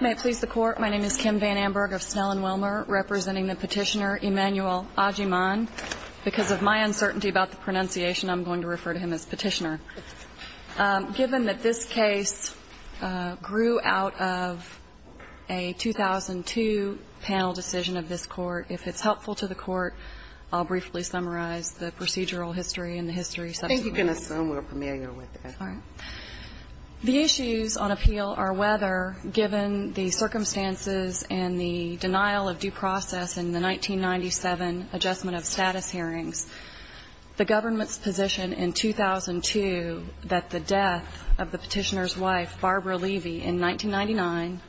May it please the Court, my name is Kim Van Amberg of Snell and Wilmer, representing the Petitioner, Emanuel Agyeman. Because of my uncertainty about the pronunciation, I'm going to refer to him as Petitioner. Given that this case grew out of a 2002 panel decision of this Court, if it's helpful to the Court, I'll briefly summarize the procedural history and the history subsequently. I think you can assume we're familiar with it. All right. The issues on appeal are whether, given the circumstances and the denial of due process in the 1997 adjustment of status hearings, the government's position in 2002 that the death of the Petitioner's wife, Barbara Levy, in 1999,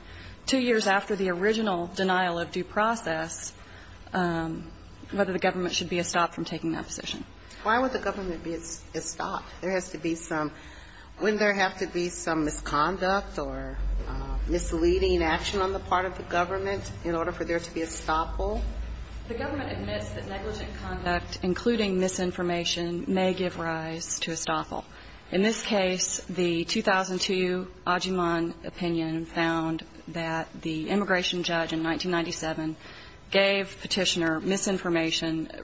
two years after the original denial of due process, whether the government should be stopped from taking that position. Why would the government be stopped? There has to be some – wouldn't there have to be some misconduct or misleading action on the part of the government in order for there to be a stopple? The government admits that negligent conduct, including misinformation, may give rise to a stopple. In this case, the 2002 Agyeman opinion found that the immigration judge in 1997 gave Petitioner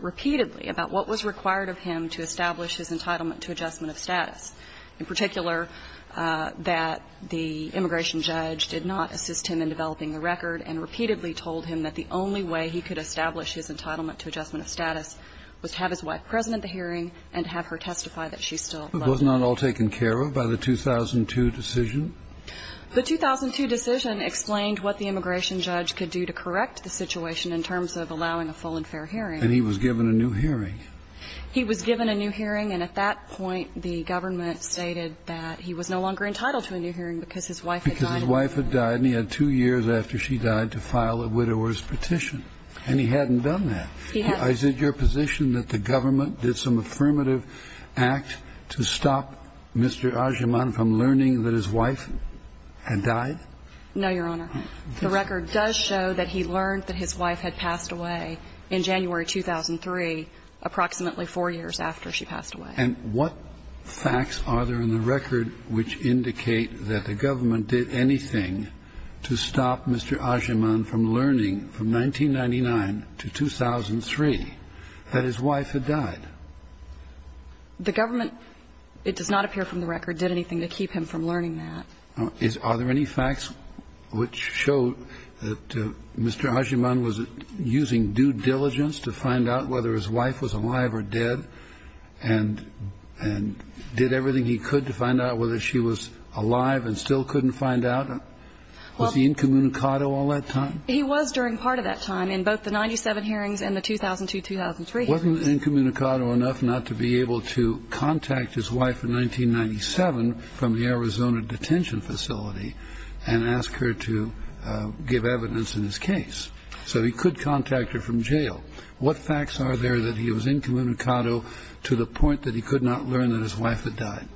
repeatedly about what was required of him to establish his entitlement to adjustment of status, in particular that the immigration judge did not assist him in developing the record and repeatedly told him that the only way he could establish his entitlement to adjustment of status was to have his wife present at the hearing and have her testify that she still loved him. But wasn't that all taken care of by the 2002 decision? The 2002 decision explained what the immigration judge could do to correct the situation in terms of allowing a full and fair hearing. And he was given a new hearing. He was given a new hearing. And at that point, the government stated that he was no longer entitled to a new hearing because his wife had died. Because his wife had died, and he had two years after she died to file a widower's petition. And he hadn't done that. He hadn't. Is it your position that the government did some affirmative act to stop Mr. Agyeman from learning that his wife had died? No, Your Honor. The record does show that he learned that his wife had passed away in January 2003, approximately four years after she passed away. And what facts are there in the record which indicate that the government did anything to stop Mr. Agyeman from learning from 1999 to 2003 that his wife had died? The government, it does not appear from the record, did anything to keep him from learning that. Are there any facts which show that Mr. Agyeman was using due diligence to find out whether his wife was alive or dead and did everything he could to find out whether she was alive and still couldn't find out? Was he incommunicado all that time? He was during part of that time, in both the 1997 hearings and the 2002-2003 hearings. Wasn't he incommunicado enough not to be able to contact his wife in 1997 from the detention facility and ask her to give evidence in his case? So he could contact her from jail. What facts are there that he was incommunicado to the point that he could not learn that his wife had died?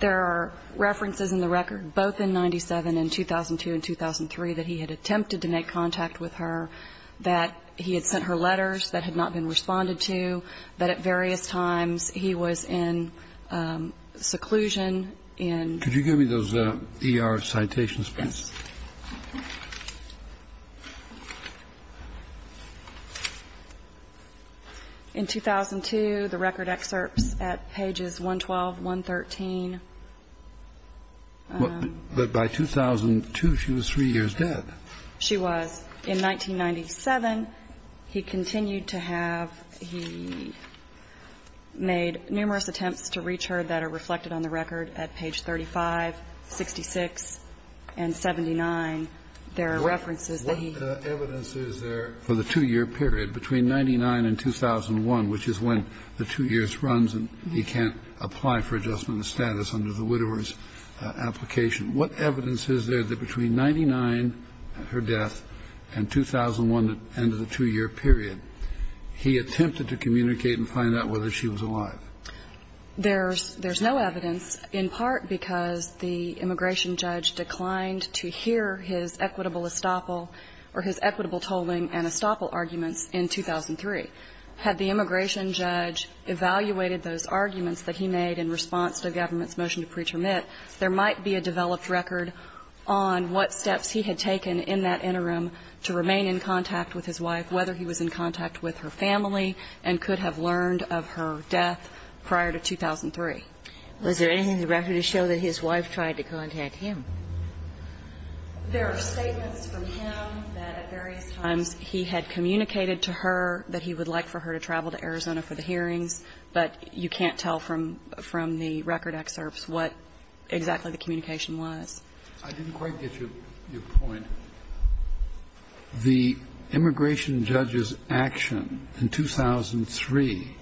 There are references in the record, both in 1997 and 2002 and 2003, that he had attempted to make contact with her, that he had sent her letters that had not been responded Could you give me those ER citations, please? Yes. In 2002, the record excerpts at pages 112, 113. But by 2002, she was three years dead. She was. In 1997, he continued to have he made numerous attempts to reach her that are reflected on the record at page 35, 66, and 79. There are references that he. What evidence is there for the two-year period between 1999 and 2001, which is when the two years runs and he can't apply for adjustment of status under the widower's application? What evidence is there that between 1999, her death, and 2001, the end of the two-year period, he attempted to communicate and find out whether she was alive? There's no evidence, in part because the immigration judge declined to hear his equitable estoppel or his equitable tolling and estoppel arguments in 2003. Had the immigration judge evaluated those arguments that he made in response to the government's motion to pre-termit, there might be a developed record on what steps he had taken in that interim to remain in contact with his wife, whether he was in contact with her family and could have learned of her death prior to 2003. Was there anything in the record to show that his wife tried to contact him? There are statements from him that at various times he had communicated to her that he would like for her to travel to Arizona for the hearings, but you can't tell from the record excerpts what exactly the communication was. I didn't quite get your point. The immigration judge's action in 2003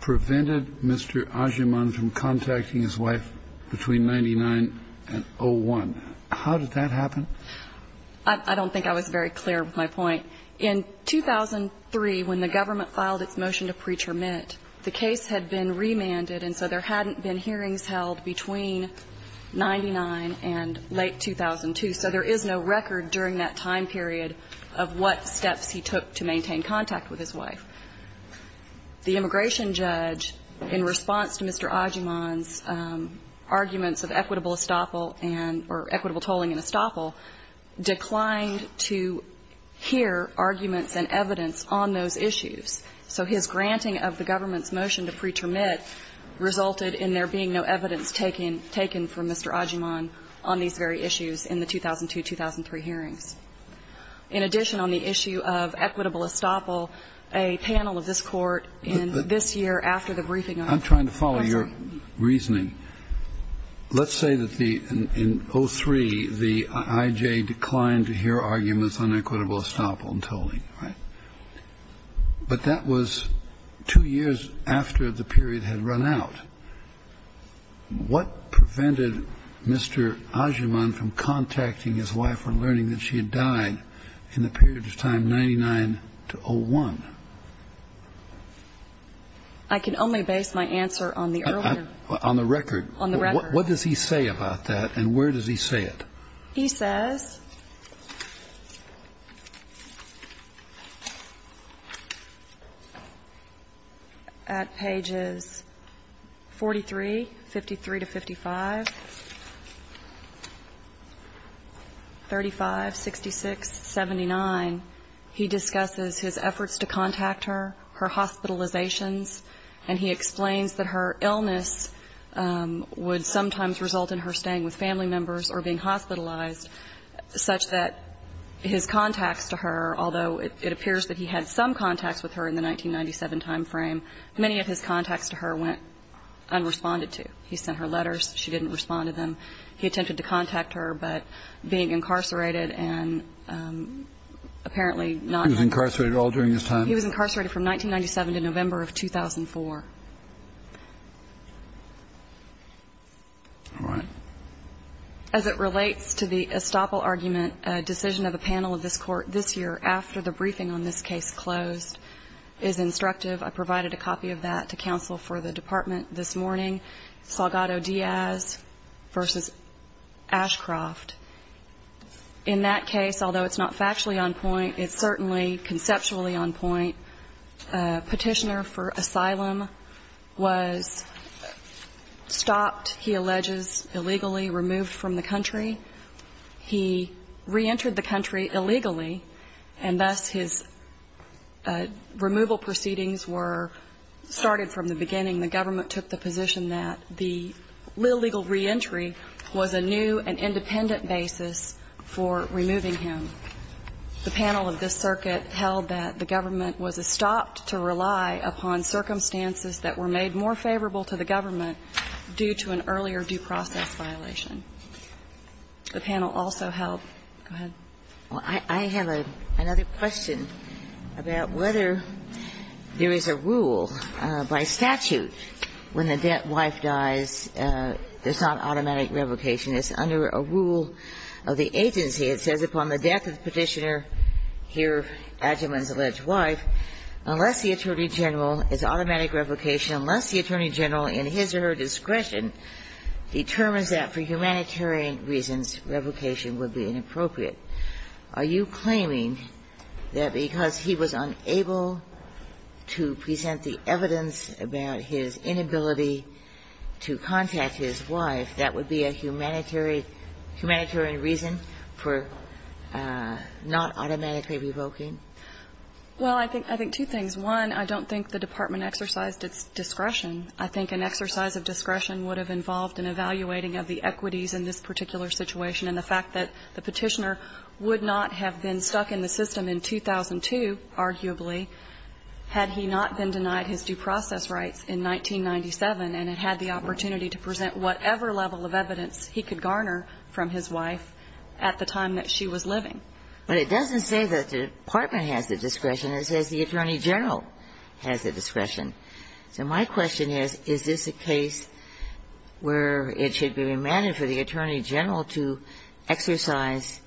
prevented Mr. Ajuman from contacting his wife between 99 and 01. How did that happen? I don't think I was very clear with my point. In 2003, when the government filed its motion to pre-termit, the case had been remanded, and so there hadn't been hearings held between 99 and late 2002. So there is no record during that time period of what steps he took to maintain contact with his wife. The immigration judge, in response to Mr. Ajuman's arguments of equitable estoppel and or equitable tolling and estoppel, declined to hear arguments and evidence on those issues. So his granting of the government's motion to pre-termit resulted in there being no evidence taken from Mr. Ajuman on these very issues in the 2002-2003 hearings. In addition, on the issue of equitable estoppel, a panel of this Court in this year after the briefing on questioning. I'm trying to follow your reasoning. Let's say that in 03, the I.J. declined to hear arguments on equitable estoppel and tolling. But that was two years after the period had run out. What prevented Mr. Ajuman from contacting his wife and learning that she had died in the period of time 99 to 01? I can only base my answer on the earlier. On the record. On the record. What does he say about that, and where does he say it? He says at pages 43, 53 to 55, 35, 66, 79, he discusses his efforts to contact her, her hospitalizations, and he explains that her illness would sometimes result in her staying with family members or being hospitalized such that his contacts to her, although it appears that he had some contacts with her in the 1997 time frame, many of his contacts to her went unresponded to. He sent her letters. She didn't respond to them. He attempted to contact her, but being incarcerated and apparently not. He was incarcerated all during this time? He was incarcerated from 1997 to November of 2004. All right. As it relates to the estoppel argument, a decision of the panel of this court this year after the briefing on this case closed is instructive. I provided a copy of that to counsel for the department this morning, Salgado Diaz v. Ashcroft. In that case, although it's not factually on point, it's certainly conceptually on point. The petitioner for asylum was stopped, he alleges, illegally removed from the country. He reentered the country illegally, and thus his removal proceedings were started from the beginning. The government took the position that the legal reentry was a new and independent basis for removing him. The panel of this circuit held that the government was estopped to rely upon circumstances that were made more favorable to the government due to an earlier due process violation. The panel also held go ahead. Well, I have another question about whether there is a rule by statute when the dead wife dies, there's not automatic revocation. It's under a rule of the agency. It says upon the death of the petitioner, here Adjaman's alleged wife, unless the attorney general, it's automatic revocation, unless the attorney general in his or her discretion determines that for humanitarian reasons, revocation would be inappropriate. Are you claiming that because he was unable to present the evidence about his inability to contact his wife, that would be a humanitarian reason for not automatically revoking? Well, I think two things. One, I don't think the Department exercised its discretion. I think an exercise of discretion would have involved an evaluating of the equities in this particular situation, and the fact that the petitioner would not have been stuck in the system in 2002, arguably, had he not been denied his due process rights in 1997 and had the opportunity to present whatever level of evidence he could garner from his wife at the time that she was living. But it doesn't say that the Department has the discretion. It says the attorney general has the discretion. So my question is, is this a case where it should be remanded for the attorney general to exercise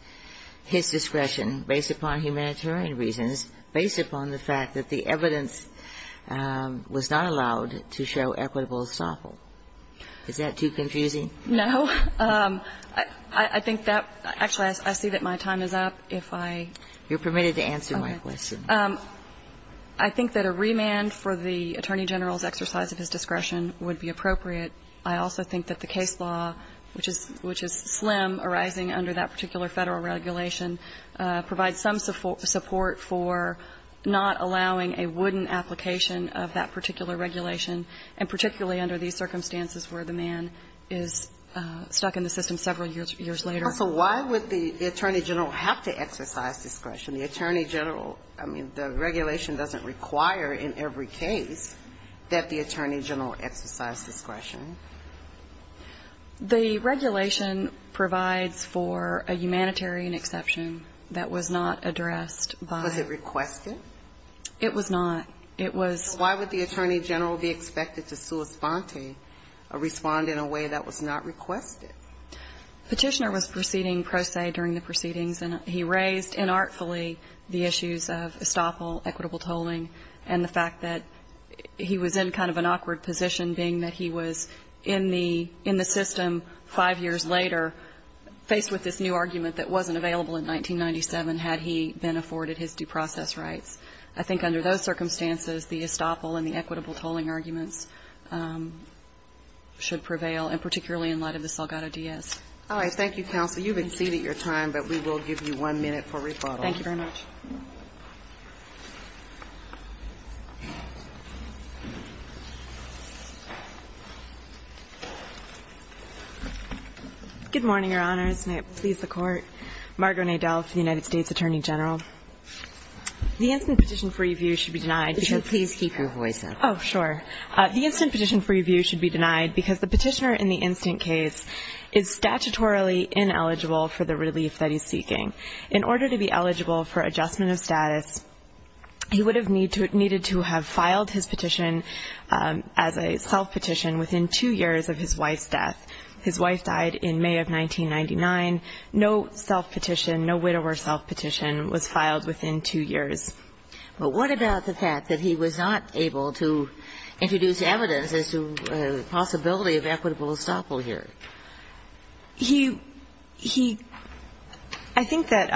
his discretion based upon humanitarian reasons, based upon the fact that the evidence was not allowed to show equitable estoppel? Is that too confusing? No. I think that actually I see that my time is up. If I am permitted to answer my question. Okay. I think that a remand for the attorney general's exercise of his discretion would be appropriate. I also think that the case law, which is slim, arising under that particular Federal regulation, provides some support for not allowing a wooden application of that particular regulation, and particularly under these circumstances where the man is stuck in the system several years later. Also, why would the attorney general have to exercise discretion? The attorney general – I mean, the regulation doesn't require in every case that the attorney general exercise discretion. The regulation provides for a humanitarian exception that was not addressed by – Was it requested? It was not. It was – So why would the attorney general be expected to sua sponte, or respond in a way that was not requested? Petitioner was proceeding pro se during the proceedings, and he raised inartfully the issues of estoppel, equitable tolling, and the fact that he was in kind of an in the system five years later, faced with this new argument that wasn't available in 1997 had he been afforded his due process rights. I think under those circumstances, the estoppel and the equitable tolling arguments should prevail, and particularly in light of the Salgado Diaz. All right. Thank you, counsel. You've exceeded your time, but we will give you one minute for rebuttal. Thank you very much. Good morning, Your Honors, and may it please the Court. Margo Nadel from the United States Attorney General. The instant petition for review should be denied because – Could you please keep your voice up? Oh, sure. The instant petition for review should be denied because the petitioner in the instant case is statutorily ineligible for the relief that he's seeking. In order to be eligible for adjustment of status, he would have needed to have filed his petition as a self-petition within two years of his wife's death. His wife died in May of 1999. No self-petition, no widower self-petition was filed within two years. But what about the fact that he was not able to introduce evidence as to the possibility of equitable estoppel here? He – I think that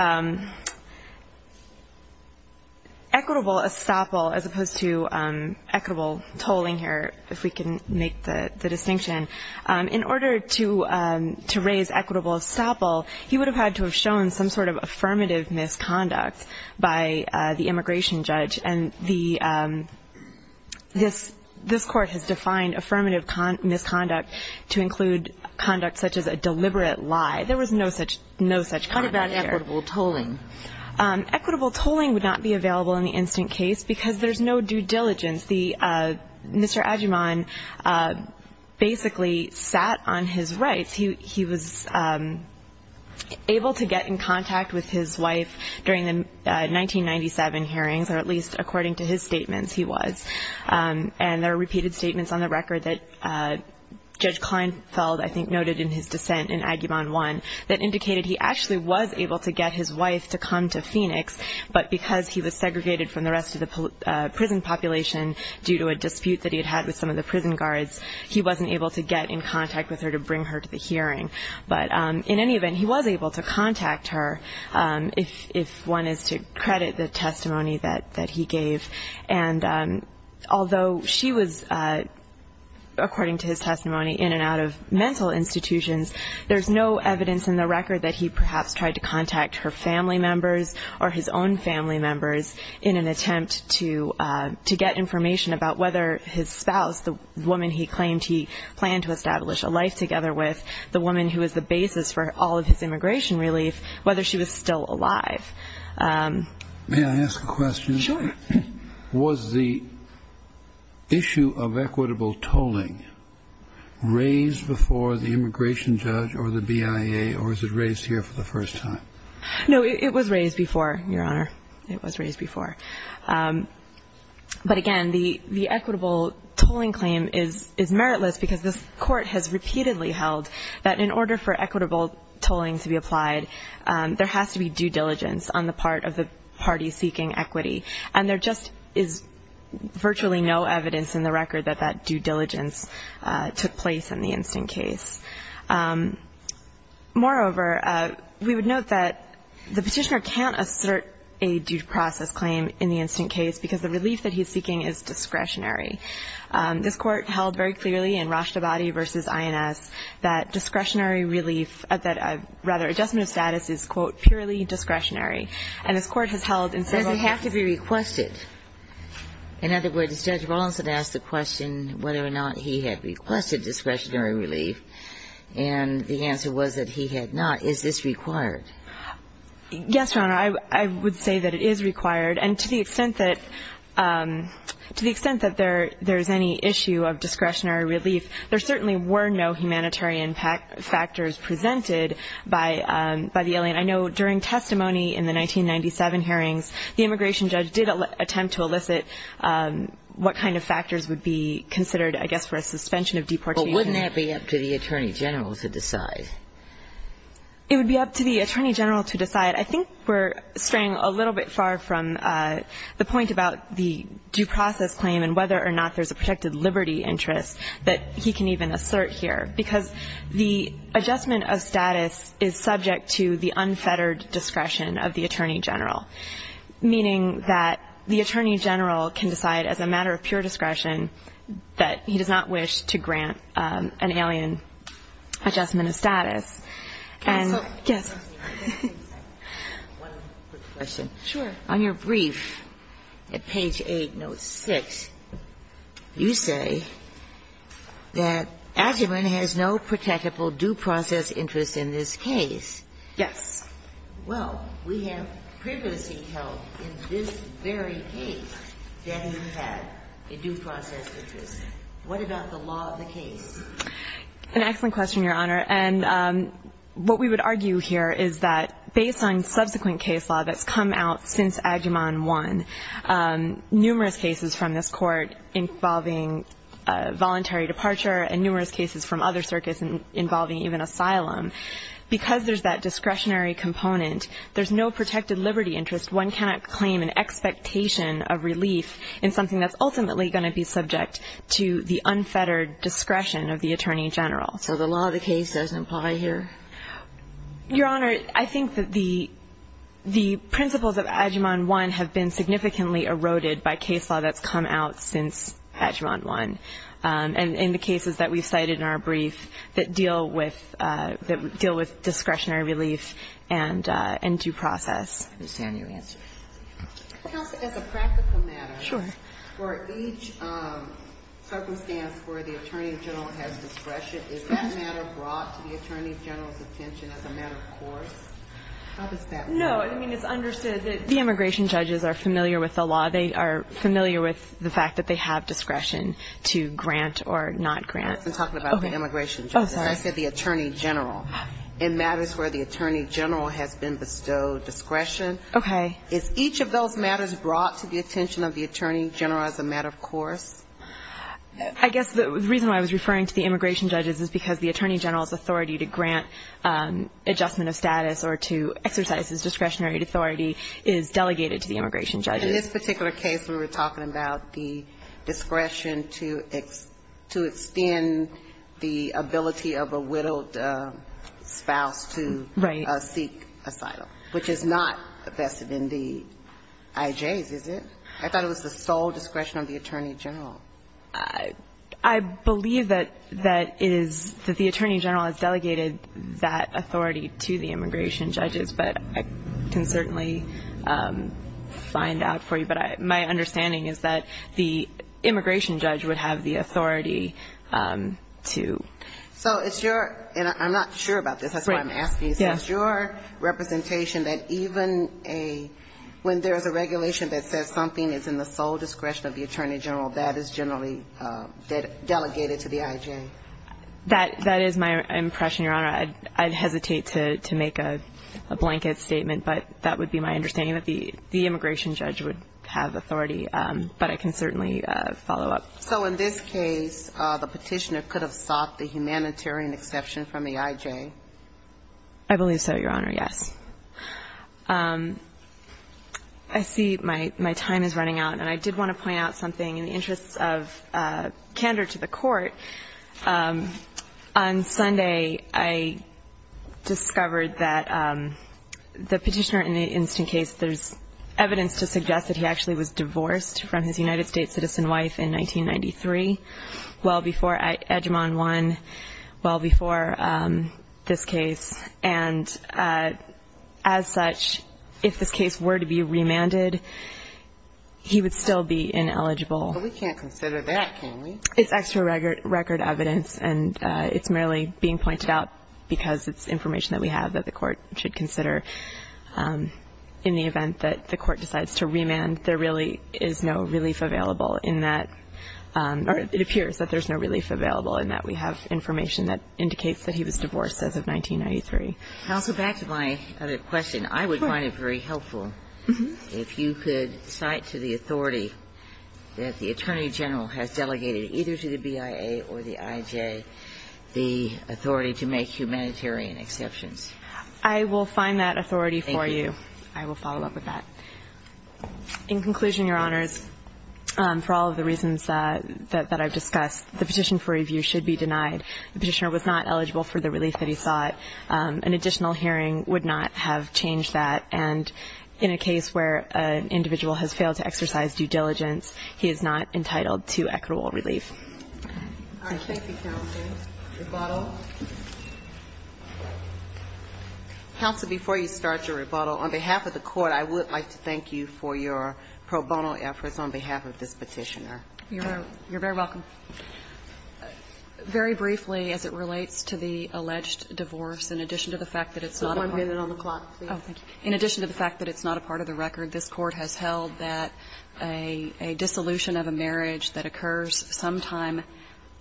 equitable estoppel as opposed to equitable tolling here, if we can make the distinction, in order to raise equitable estoppel, he would have had to have shown some sort of affirmative misconduct by the immigration judge. And the – this – this court has defined affirmative misconduct to include conduct such as a deliberate lie. There was no such – no such conduct here. What about equitable tolling? Equitable tolling would not be available in the instant case because there's no due diligence. The – Mr. Agyeman basically sat on his rights. He was able to get in contact with his wife during the 1997 hearings, or at least according to his statements, he was. And there are repeated statements on the record that Judge Kleinfeld, I think, noted in his dissent in Agyeman 1 that indicated he actually was able to get his wife to come to Phoenix, but because he was segregated from the rest of the prison population due to a dispute that he had with some of the prison guards, he wasn't able to get in contact with her to bring her to the hearing. But in any event, he was able to contact her if – if one is to credit the testimony that – that he gave. And although she was, according to his testimony, in and out of mental institutions, there's no evidence in the record that he perhaps tried to contact her family members or his own family members in an attempt to – to get information about whether his spouse, the woman he claimed he planned to establish a life together with, the woman who was the basis for all of his immigration relief, whether she was still alive. May I ask a question? Sure. Was the issue of equitable tolling raised before the immigration judge or the BIA, or was it raised here for the first time? No, it was raised before, Your Honor. It was raised before. But again, the – the equitable tolling claim is – is meritless because this court has repeatedly held that in order for equitable tolling to be applied, there has to be due diligence on the part of the party seeking equity. And there just is virtually no evidence in the record that that due diligence took place in the instant case. Moreover, we would note that the Petitioner can't assert a due process claim in the instant case because the relief that he's seeking is discretionary. This Court held very clearly in Rashtabadi v. INS that discretionary relief – that rather, adjustment of status is, quote, purely discretionary. And this Court has held in several cases – But does it have to be requested? In other words, Judge Rawlinson asked the question whether or not he had requested discretionary relief. And the answer was that he had not. Is this required? Yes, Your Honor. I would say that it is required. And to the extent that – to the extent that there is any issue of discretionary relief, there certainly were no humanitarian factors presented by the alien. I know during testimony in the 1997 hearings, the immigration judge did attempt to elicit what kind of factors would be considered, I guess, for a suspension of deportation. But wouldn't that be up to the Attorney General to decide? It would be up to the Attorney General to decide. I think we're straying a little bit far from the point about the due process claim and whether or not there's a protected liberty interest that he can even assert here, because the adjustment of status is subject to the unfettered discretion of the Attorney General, meaning that the Attorney General can decide as a matter of pure discretion that he does not wish to grant an alien adjustment of status. And yes. One quick question. Sure. On your brief at page 8, note 6, you say that Asherman has no protectable due process interest in this case. Yes. Well, we have previously held in this very case that he had a due process interest. What about the law of the case? An excellent question, Your Honor. And what we would argue here is that based on subsequent case law that's come out since Adjuman 1, numerous cases from this Court involving voluntary departure and numerous cases from other circuits involving even asylum, because there's that discretionary component, there's no protected liberty interest. One cannot claim an expectation of relief in something that's ultimately going to be subject to the unfettered discretion of the Attorney General. So the law of the case doesn't apply here? Your Honor, I think that the principles of Adjuman 1 have been significantly eroded by case law that's come out since Adjuman 1. And in the cases that we've cited in our brief that deal with discretionary relief and due process. I understand your answer. Counsel, as a practical matter, for each circumstance where the Attorney General has discretion, is that matter brought to the Attorney General's attention as a matter of course? How does that work? No. I mean, it's understood that the immigration judges are familiar with the law. They are familiar with the fact that they have discretion to grant or not grant. I'm talking about the immigration judges. Oh, sorry. I said the Attorney General. In matters where the Attorney General has been bestowed discretion. Okay. Is each of those matters brought to the attention of the Attorney General as a matter of course? I guess the reason why I was referring to the immigration judges is because the Attorney General's authority to grant adjustment of status or to exercise his discretionary authority is delegated to the immigration judges. In this particular case, we were talking about the discretion to extend the ability of a widowed spouse to seek asylum. Right. Which is not vested in the IJs, is it? I thought it was the sole discretion of the Attorney General. I believe that the Attorney General has delegated that authority to the immigration judges, but I can certainly find out for you. But my understanding is that the immigration judge would have the authority to. So it's your, and I'm not sure about this. That's why I'm asking. It's your representation that even when there is a regulation that says something is in the sole discretion of the Attorney General, that is generally delegated to the IJ? That is my impression, Your Honor. I'd hesitate to make a blanket statement, but that would be my understanding that the immigration judge would have authority. But I can certainly follow up. So in this case, the Petitioner could have sought the humanitarian exception from the IJ? I believe so, Your Honor, yes. I see my time is running out, and I did want to point out something in the interest of candor to the Court. On Sunday, I discovered that the Petitioner in the instant case, there's evidence to suggest that he actually was divorced from his United States citizen wife in 1993, well before Edgmon won, well before this case. And as such, if this case were to be remanded, he would still be ineligible. But we can't consider that, can we? It's extra record evidence, and it's merely being pointed out because it's information that we have that the Court should consider. In the event that the Court decides to remand, there really is no relief available in that, or it appears that there's no relief available in that we have information that indicates that he was divorced as of 1993. Counsel, back to my other question. I would find it very helpful if you could cite to the authority that the Attorney General has delegated either to the BIA or the IJ the authority to make humanitarian exceptions. I will find that authority for you. Thank you. I will follow up with that. In conclusion, Your Honors, for all of the reasons that I've discussed, the petition for review should be denied. The Petitioner was not eligible for the relief that he sought. An additional hearing would not have changed that. And in a case where an individual has failed to exercise due diligence, he is not entitled to equitable relief. All right. Thank you, counsel. Rebuttal. Counsel, before you start your rebuttal, on behalf of the Court, I would like to thank you for your pro bono efforts on behalf of this Petitioner. You're very welcome. Very briefly, as it relates to the alleged divorce, in addition to the fact that it's not a part of the case. In addition to the fact that it's not a part of the record, this Court has held that a dissolution of a marriage that occurs sometime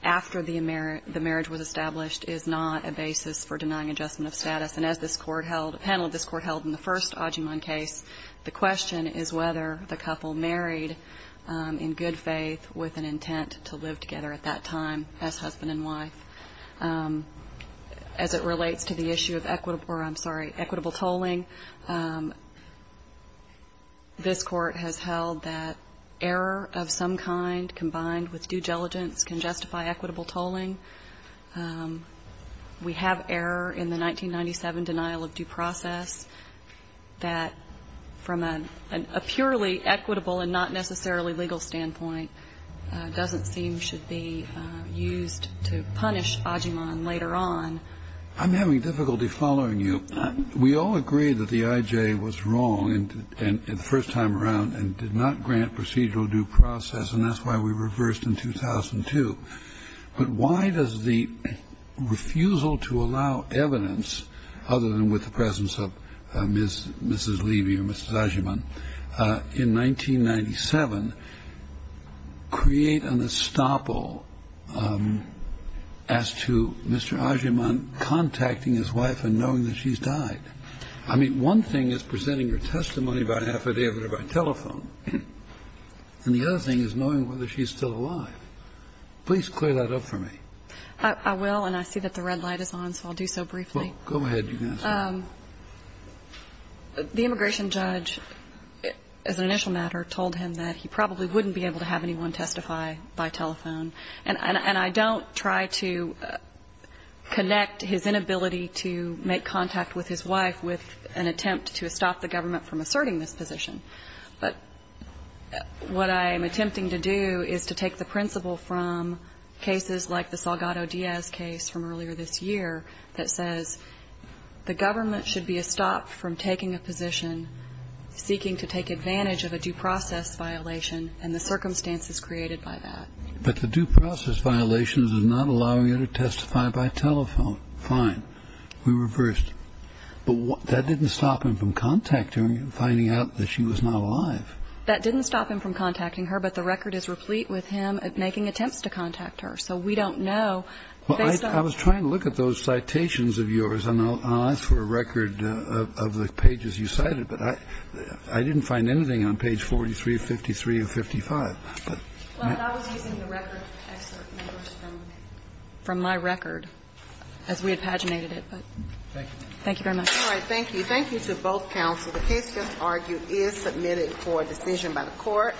after the marriage was established is not a basis for denying adjustment of status. And as this Court held, the panel of this Court held in the first Adjuman case, the question is whether the couple married in good faith with an intent to live together at that time as husband and wife. As it relates to the issue of equitable or, I'm sorry, equitable tolling, this Court has held that error of some kind combined with due diligence can justify equitable tolling. We have error in the 1997 denial of due process that, from a purely equitable and not necessarily legal standpoint, doesn't seem should be used to punish Adjuman later on. I'm having difficulty following you. We all agree that the IJ was wrong the first time around and did not grant procedural due process, and that's why we reversed in 2002. But why does the refusal to allow evidence, other than with the presence of Mrs. Adjuman, create an estoppel as to Mr. Adjuman contacting his wife and knowing that she's died? I mean, one thing is presenting her testimony by affidavit or by telephone, and the other thing is knowing whether she's still alive. Please clear that up for me. I will, and I see that the red light is on, so I'll do so briefly. Well, go ahead. The immigration judge, as an initial matter, told him that he probably wouldn't be able to have anyone testify by telephone. And I don't try to connect his inability to make contact with his wife with an attempt to stop the government from asserting this position. But what I am attempting to do is to take the principle from cases like the Salgado Diaz case from earlier this year that says the government should be estopped from taking a position seeking to take advantage of a due process violation and the circumstances created by that. But the due process violation does not allow you to testify by telephone. Fine. We reversed. But that didn't stop him from contacting her and finding out that she was not alive. That didn't stop him from contacting her, but the record is replete with him making attempts to contact her. So we don't know. I was trying to look at those citations of yours, and I'll ask for a record of the pages you cited, but I didn't find anything on page 43, 53, or 55. Well, I was using the record excerpt from my record as we had paginated it. Thank you very much. All right. Thank you. Thank you to both counsel. The case just argued is submitted for decision by the Court.